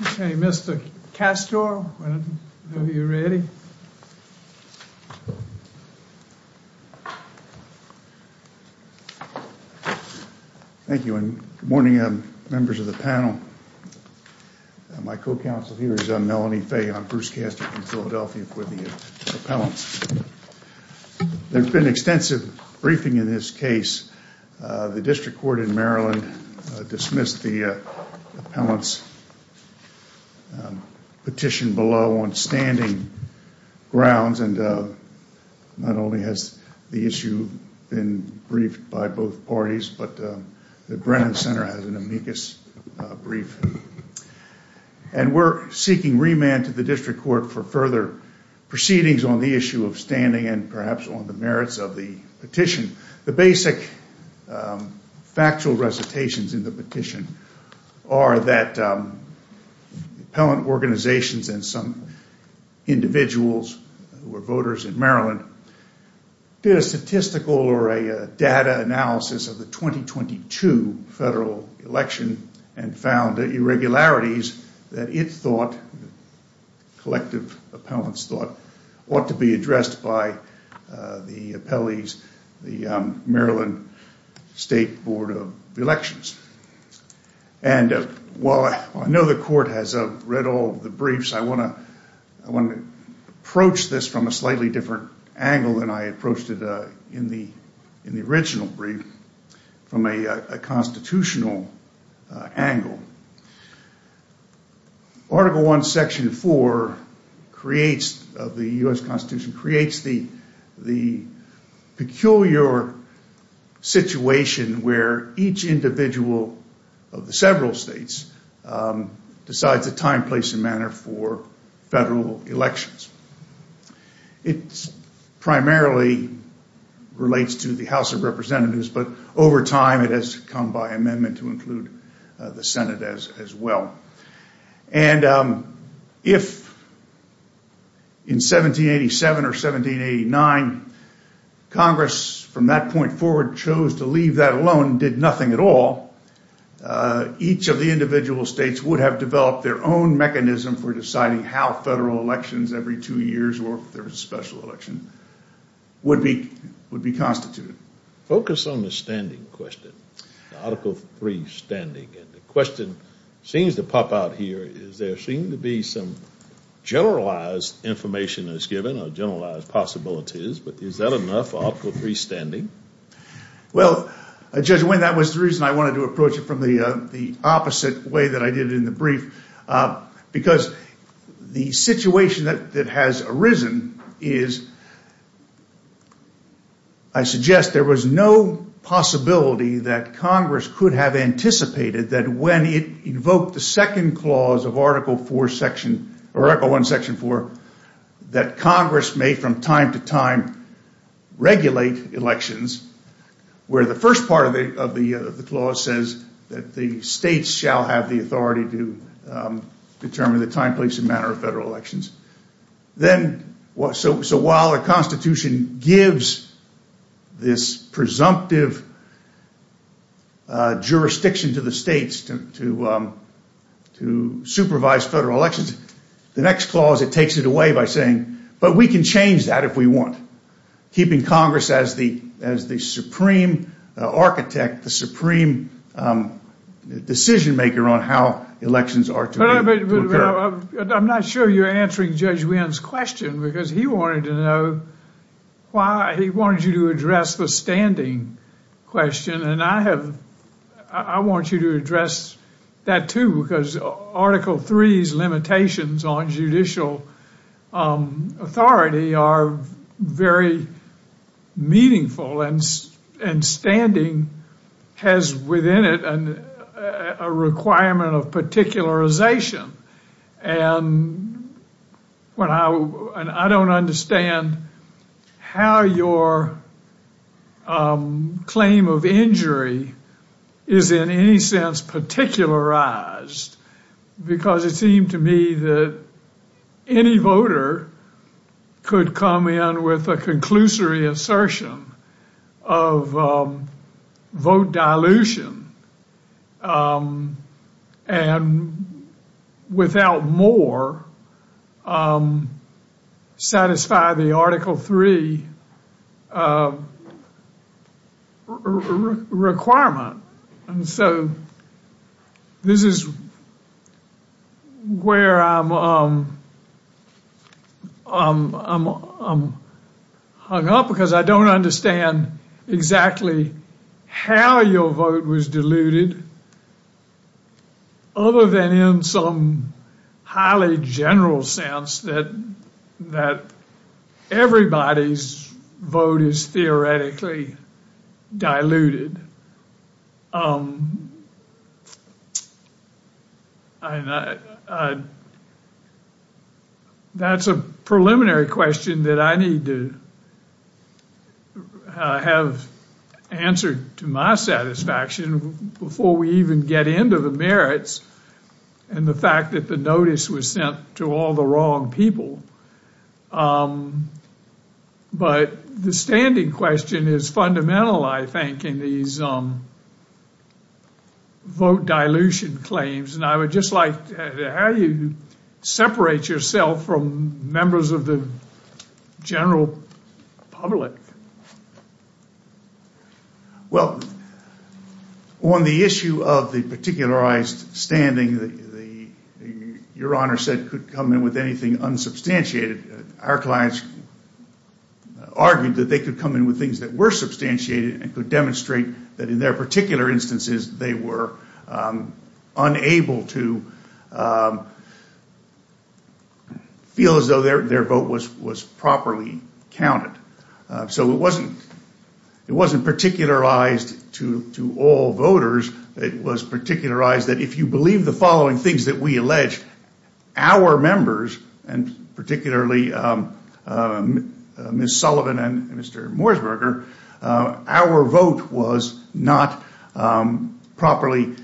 Okay, Mr. Castor, whenever you're ready. Thank you and good morning members of the panel. My co-counsel here is Melanie Fay. I'm Bruce Castor from Philadelphia for the appellants. There's been extensive briefing in this case. The district court in Maryland dismissed the appellants petition below on standing grounds and not only has the issue been briefed by both parties, but the Brennan Center has an amicus brief. And we're seeking remand to the district court for further proceedings on the issue of standing and perhaps on the merits of the petition. The basic factual recitations in the petition are that appellant organizations and some individuals who are voters in Maryland did a statistical or a data analysis of the 2022 federal election and found the irregularities that it thought, collective appellants thought, ought to be addressed by the appellees, the Maryland State Board of Elections. And while I know the court has read all the briefs, I want to approach this from a slightly different angle than I approached it in the original brief, from a constitutional angle. Article I, Section 4 of the U.S. Constitution creates the peculiar situation where each individual of the several states decides a time, place, and manner for federal elections. It primarily relates to the House of Representatives, but over time it has come by amendment to include the Senate as well. And if in 1787 or 1789, Congress from that point forward chose to leave that alone, did nothing at all, each of the individual states would have developed their own mechanism for deciding how federal elections every two years or if there Article III standing. And the question seems to pop out here is there seem to be some generalized information that's given or generalized possibilities, but is that enough Article III standing? Well, Judge Wayne, that was the reason I wanted to approach it from the opposite way that I did in the brief, because the situation that has arisen is, I suggest there was no possibility that Congress could have anticipated that when it invoked the second clause of Article I, Section 4, that Congress may from time to time regulate elections where the first part of the clause says that the states shall have the authority to determine the time, place, and jurisdiction to the states to supervise federal elections. The next clause, it takes it away by saying, but we can change that if we want, keeping Congress as the supreme architect, the supreme decision maker on how elections are to occur. I'm not sure you're answering Judge Wayne's question because he wanted to know why he wanted you to address the standing question and I have, I want you to address that too because Article III's limitations on judicial authority are very meaningful and standing has within it a requirement of particularization. And I don't understand how your claim of injury is in any sense particularized because it seemed to me that any voter could come in with a conclusory assertion of vote dilution and without more satisfy the Article III requirement. And so this is where I'm I'm hung up because I don't understand exactly how your vote was diluted other than in some highly general sense that that everybody's vote is theoretically diluted. Diluted. That's a preliminary question that I need to have answered to my satisfaction before we even get into the merits and the fact that the notice was sent to all the wrong people. But the standing question is fundamental, I think, in these vote dilution claims and I would just like how you separate yourself from members of the general public. Well, on the issue of the particularized standing, your honor said could come in with anything unsubstantiated. Our clients argued that they could come in with things that were substantiated and could demonstrate that in their particular instances they were unable to feel as though their vote was properly counted. So it wasn't particularized to all voters, it was particularized that if you believe the following things that we allege, our members and particularly Ms. Sullivan and Mr. Morseberger, our vote was not properly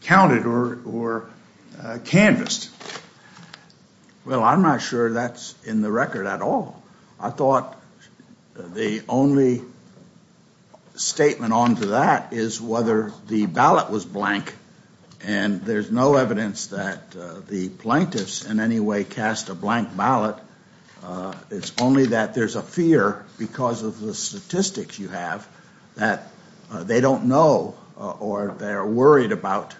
counted or canvassed. Well, I'm not sure that's in the record at all. I thought the only statement on to that is whether the ballot was blank and there's no evidence that the plaintiffs in any way cast a blank ballot. It's only that there's a fear because of the statistics you have that they don't know or they're worried about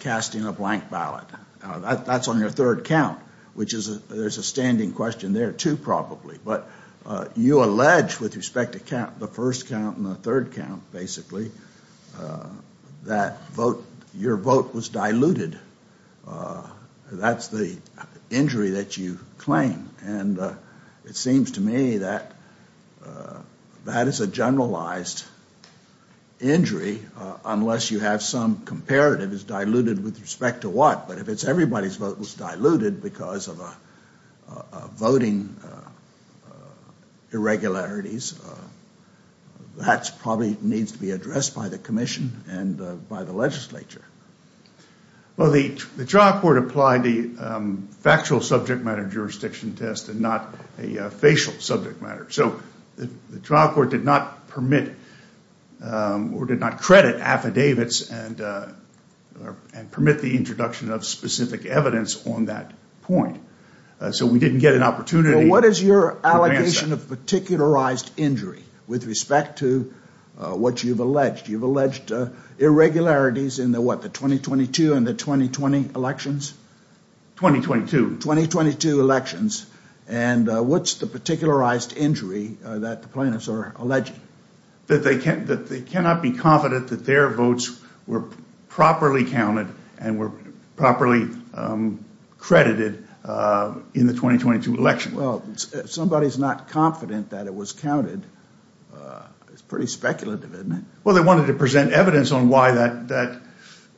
casting a blank ballot. That's on your third count, which is there's a standing question there too probably. But you allege with respect to count the first count and the third count basically that vote your vote was diluted. That's the injury that you claim and it seems to me that that is a generalized injury unless you have some comparative is diluted with respect to what. But if it's diluted because of a voting irregularities, that probably needs to be addressed by the commission and by the legislature. Well, the trial court applied the factual subject matter jurisdiction test and not a facial subject matter. So the trial court did not permit or did not credit affidavits and permit the introduction of specific evidence on that point. So we didn't get an opportunity. What is your allegation of particularized injury with respect to what you've alleged? You've alleged irregularities in the what the 2022 and the 2020 elections? 2022. 2022 elections. And what's the particularized injury that the plaintiffs are alleging? That they cannot be confident that their votes were properly counted and were properly credited in the 2022 election. Well, if somebody's not confident that it was counted, it's pretty speculative, isn't it? Well, they wanted to present evidence on why that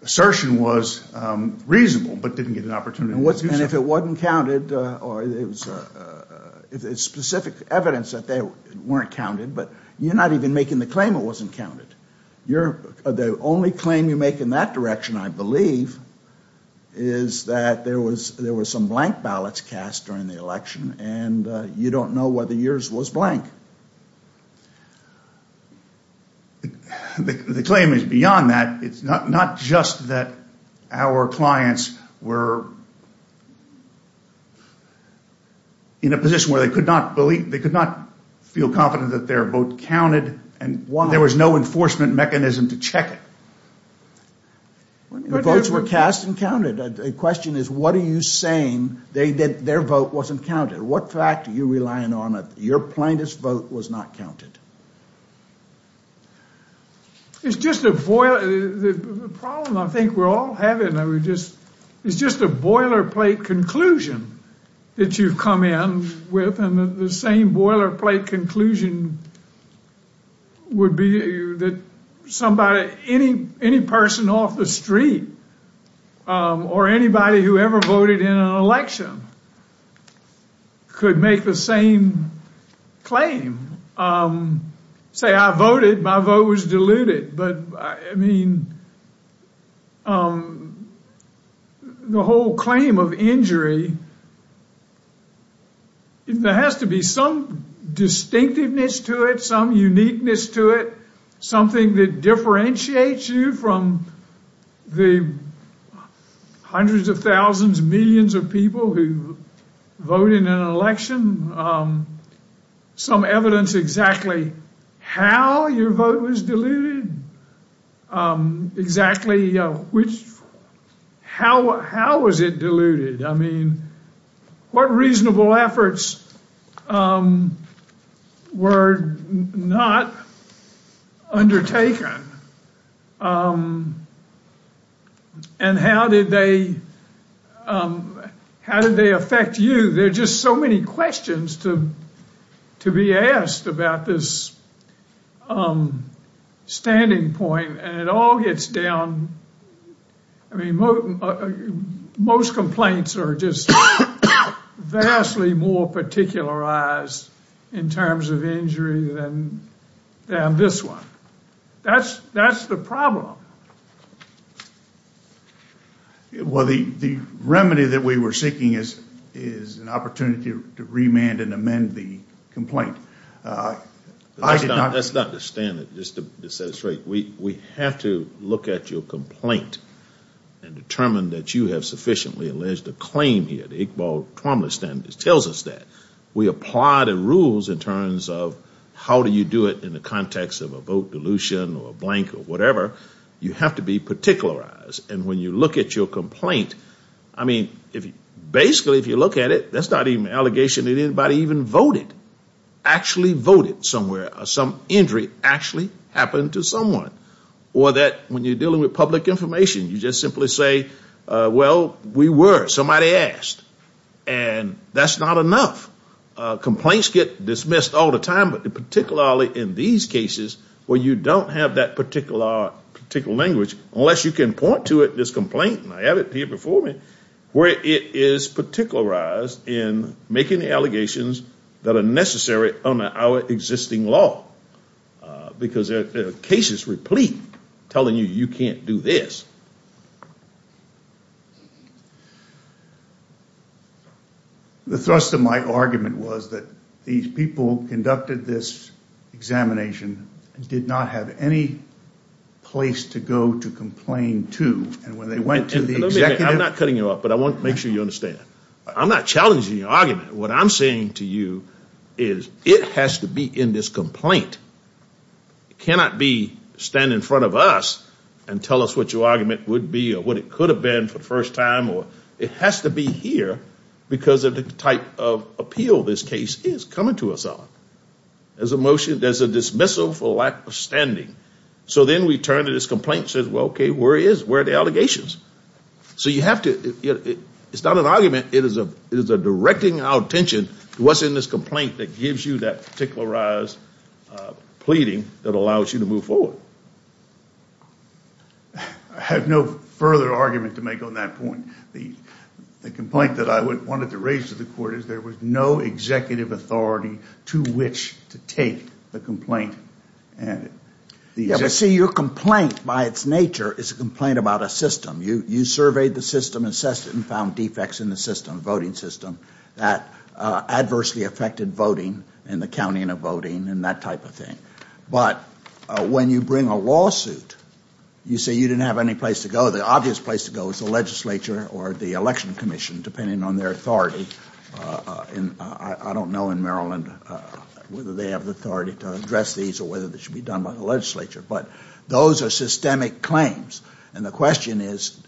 assertion was reasonable but didn't get an opportunity. And if it wasn't counted or if it's specific evidence that they weren't counted, but you're not even making the claim it wasn't counted. You're, the only claim you make in that direction, I believe, is that there was some blank ballots cast during the election and you don't know whether yours was blank. The claim is beyond that. It's not just that our clients were in a position where they could not believe, they could not feel confident that their vote counted and there was no enforcement mechanism to check it. The votes were cast and counted. The question is, what are you saying that their vote wasn't counted? What fact are you relying on that your plaintiff's vote was not counted? It's just a boil, the problem I think we're all having, we're just, it's just a boilerplate conclusion that you've come in with and the same boilerplate conclusion would be that somebody, any person off the street or anybody who ever voted in an election could make the same claim. Say I voted, my vote was diluted, but I mean the whole claim of injury, there has to be some distinctiveness to it, some uniqueness to it, something that differentiates you from the hundreds of thousands, millions of people who vote in an election, some evidence exactly how your vote was diluted, exactly which, how was it diluted? I mean, what reasonable efforts were not undertaken and how did they, how did they affect you? There are just so many questions to be asked about this standing point and it all gets down, I mean most complaints are just vastly more particularized in terms of injury than this one. That's the problem. Well, the remedy that we were seeking is an opportunity to remand and amend the complaint. That's not the standard, just to set it straight, we have to look at your complaint and determine that you have sufficiently alleged a claim here, the Iqbal-Tromley standard tells us that. We apply the rules in terms of how do you do it in the context of a vote dilution or a blank or whatever, you have to be particularized and when you look at your complaint, I mean, basically if you look at it, that's not even an allegation that anybody even voted, actually voted somewhere, some injury actually happened to someone, or that when you're dealing with public information, you just simply say, well, we were, somebody asked, and that's not enough. Complaints get dismissed all the time, but particularly in these cases where you don't have that particular, particular language, unless you can point to it, this complaint, and I have it here before me, where it is particularized in making the allegations that are necessary under our existing law, because there are cases replete telling you, you can't do this. The thrust of my argument was that these people conducted this examination and did not have any place to go to complain to, and when they went to the executive. I'm not cutting you off, but I want to make sure you understand, I'm not challenging your argument. What I'm saying to you is it has to be in this complaint. It cannot be stand in front of us and tell us what your argument would be or what it could have been for the first time, or it has to be here because of the type of appeal this case is coming to us on. There's a motion, there's a dismissal for lack of standing. So then we turn to this complaint and say, okay, where are the allegations? So you have to, it's not an argument, it is a directing our attention to what's in this complaint that gives you that particularized pleading that allows you to move forward. I have no further argument to make on that point. The complaint that I wanted to raise to the court is there was no executive authority to which to take the complaint. Yeah, but see, your complaint by its nature is a complaint about a system. You surveyed the system and assessed it and found defects in the system, voting system, that adversely affected voting and the counting of voting and that type of thing. But when you bring a lawsuit, you say you didn't have any place to go. The obvious place to go is the legislature or the election commission, depending on their authority. I don't know in Maryland whether they have the authority to address these or whether they should be done by the legislature, but those are systemic claims. And the question is,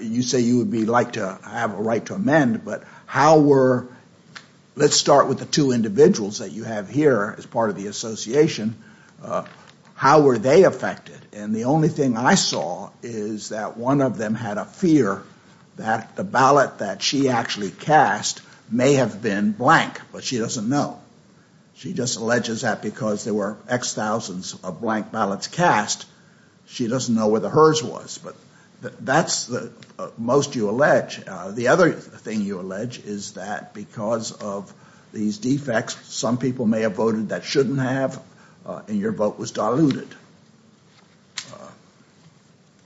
you say you would like to have a right to amend, but how were, let's start with the two individuals that you have here as part of the association, how were they affected? And the only thing I saw is that one of them had a fear that the ballot that she actually cast may have been blank, but she doesn't know. She just alleges that because there were x thousands of blank ballots cast, she doesn't know where the hers was. But that's the most you allege. The other thing you allege is that because of these defects, some people may have voted that shouldn't have and your vote was diluted.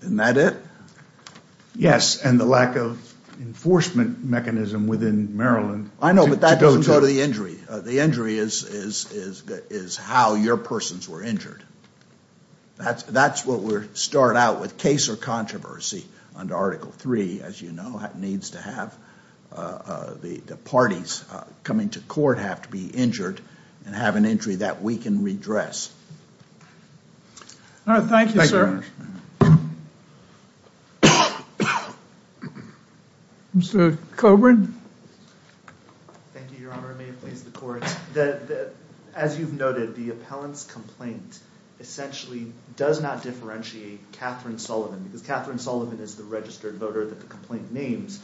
Isn't that it? Yes, and the lack of enforcement mechanism within Maryland. I know, but that doesn't go to the injury. The injury is how your persons were injured. That's what we start out with case or controversy under Article 3, as you to have the parties coming to court have to be injured and have an injury that we can redress. All right. Thank you, sir. Mr. Coburn. Thank you, your honor. May it please the court that as you've noted, the appellant's complaint essentially does not differentiate Katherine Sullivan because Katherine Sullivan is the voter that the complaint names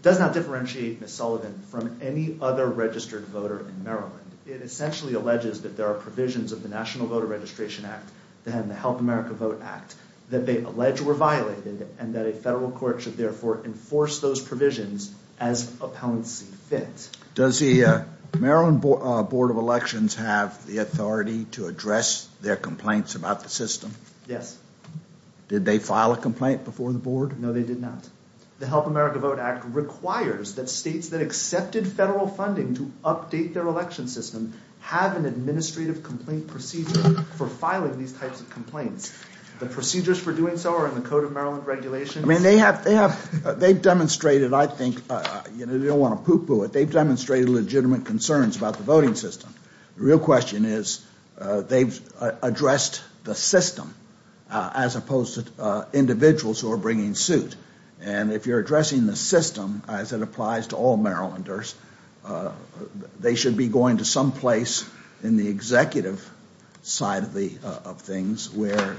does not differentiate Ms. Sullivan from any other registered voter in Maryland. It essentially alleges that there are provisions of the National Voter Registration Act and the Help America Vote Act that they allege were violated and that a federal court should therefore enforce those provisions as appellants fit. Does the Maryland Board of Elections have the authority to address their complaints about the Yes. Did they file a complaint before the board? No, they did not. The Help America Vote Act requires that states that accepted federal funding to update their election system have an administrative complaint procedure for filing these types of complaints. The procedures for doing so are in the Code of Maryland Regulations. I mean, they have, they have, they've demonstrated, I think, you know, they don't want to poopoo it. They've demonstrated legitimate concerns about the voting system. The real question is they've addressed the system as opposed to individuals who are bringing suit. And if you're addressing the system as it applies to all Marylanders, they should be going to some place in the executive side of the, of things where,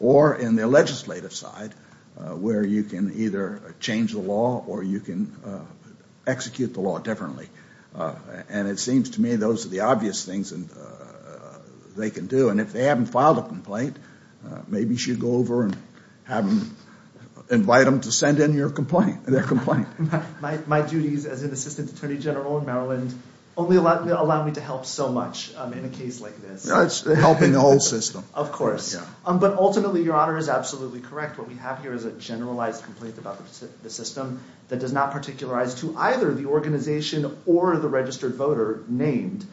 or in the legislative side where you can either change the law or you can execute the law differently. And it seems to me those are the obvious things they can do. And if they haven't filed a complaint, maybe you should go over and have them, invite them to send in your complaint, their complaint. My duties as an Assistant Attorney General in Maryland only allow me to help so much in a case like this. Helping the whole system. Of course. But ultimately, Your Honor, is absolutely correct. What we have here is a generalized complaint about the system that does not particularize to either the organization or the registered voter named.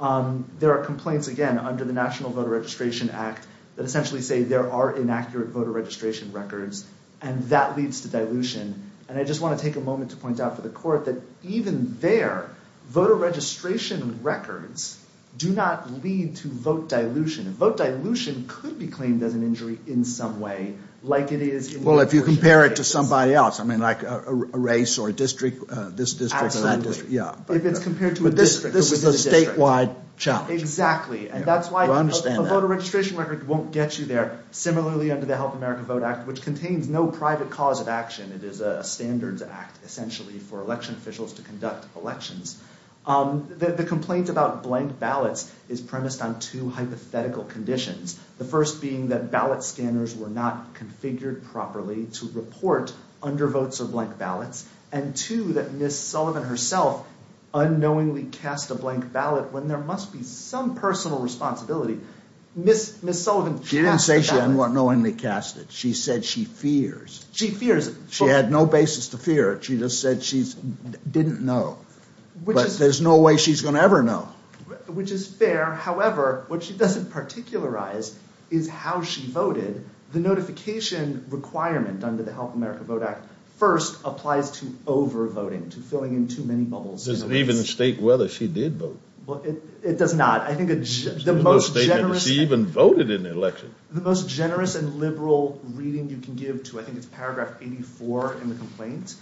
There are complaints, again, under the National Voter Registration Act that essentially say there are inaccurate voter registration records and that leads to dilution. And I just want to take a moment to point out for the court that even there, voter registration records do not lead to vote dilution. Vote dilution could be claimed as an injury in some way, like it is... Well, if you compare it to somebody else, I mean, like a race or a district, this district or that district. Absolutely. Yeah. If it's compared to a district. This is a statewide challenge. Exactly. And that's why a voter registration record won't get you there. Similarly, under the Help America Vote Act, which contains no private cause of action, it is a standards act, essentially, for election officials to conduct elections. The complaint about blank ballots is premised on two hypothetical conditions. The first being that ballot scanners were not configured properly to report undervotes or blank ballots. And two, that Ms. Sullivan herself unknowingly cast a blank ballot when there must be some personal responsibility. Ms. Sullivan... She didn't say she unknowingly cast it. She said she fears. She fears. She had no basis to fear it. She just said she didn't know. But there's no way she's going to ever know. Which is fair. However, what she doesn't particularize is how she voted. The notification requirement under the Help America Vote Act first applies to over-voting, to filling in too many bubbles. Does it even state whether she did vote? Well, it does not. I think the most generous... She even voted in the election. The most generous and liberal reading you can give to, I think it's paragraph 84 in the complaint,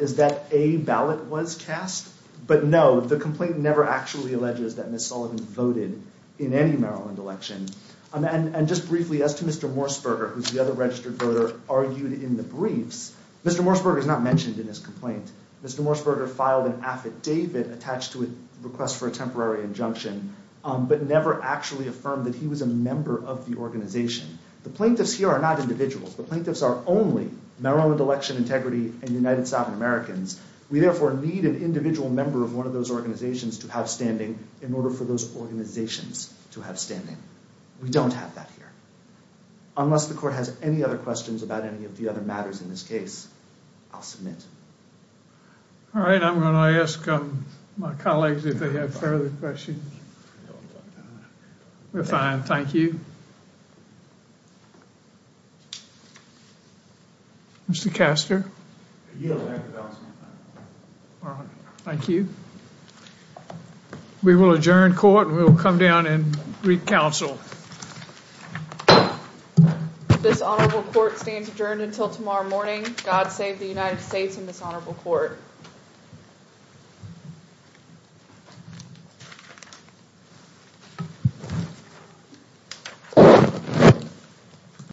is that a ballot was cast. But no, the complaint never actually alleges that Ms. Sullivan voted in any Maryland election. And just briefly, as to Mr. Morseberger, who's the other registered voter, argued in the briefs, Mr. Morseberger is not mentioned in his complaint. Mr. Morseberger filed an affidavit attached to a request for a temporary injunction, but never actually affirmed that he was a member of the organization. The plaintiffs here are not individuals. The plaintiffs are only Maryland election integrity and United Southern Americans. We therefore need an individual member of one of those organizations to have standing in order for those organizations to have standing. We don't have that here. Unless the court has any other questions about any of the other matters in this case, I'll submit. All right, I'm going to ask my colleagues if they have further questions. We're fine, thank you. Mr. Castor? All right, thank you. We will adjourn court and we will come down and re-counsel. This honorable court stands adjourned until tomorrow morning. God save the United States and this honorable court. Thank you.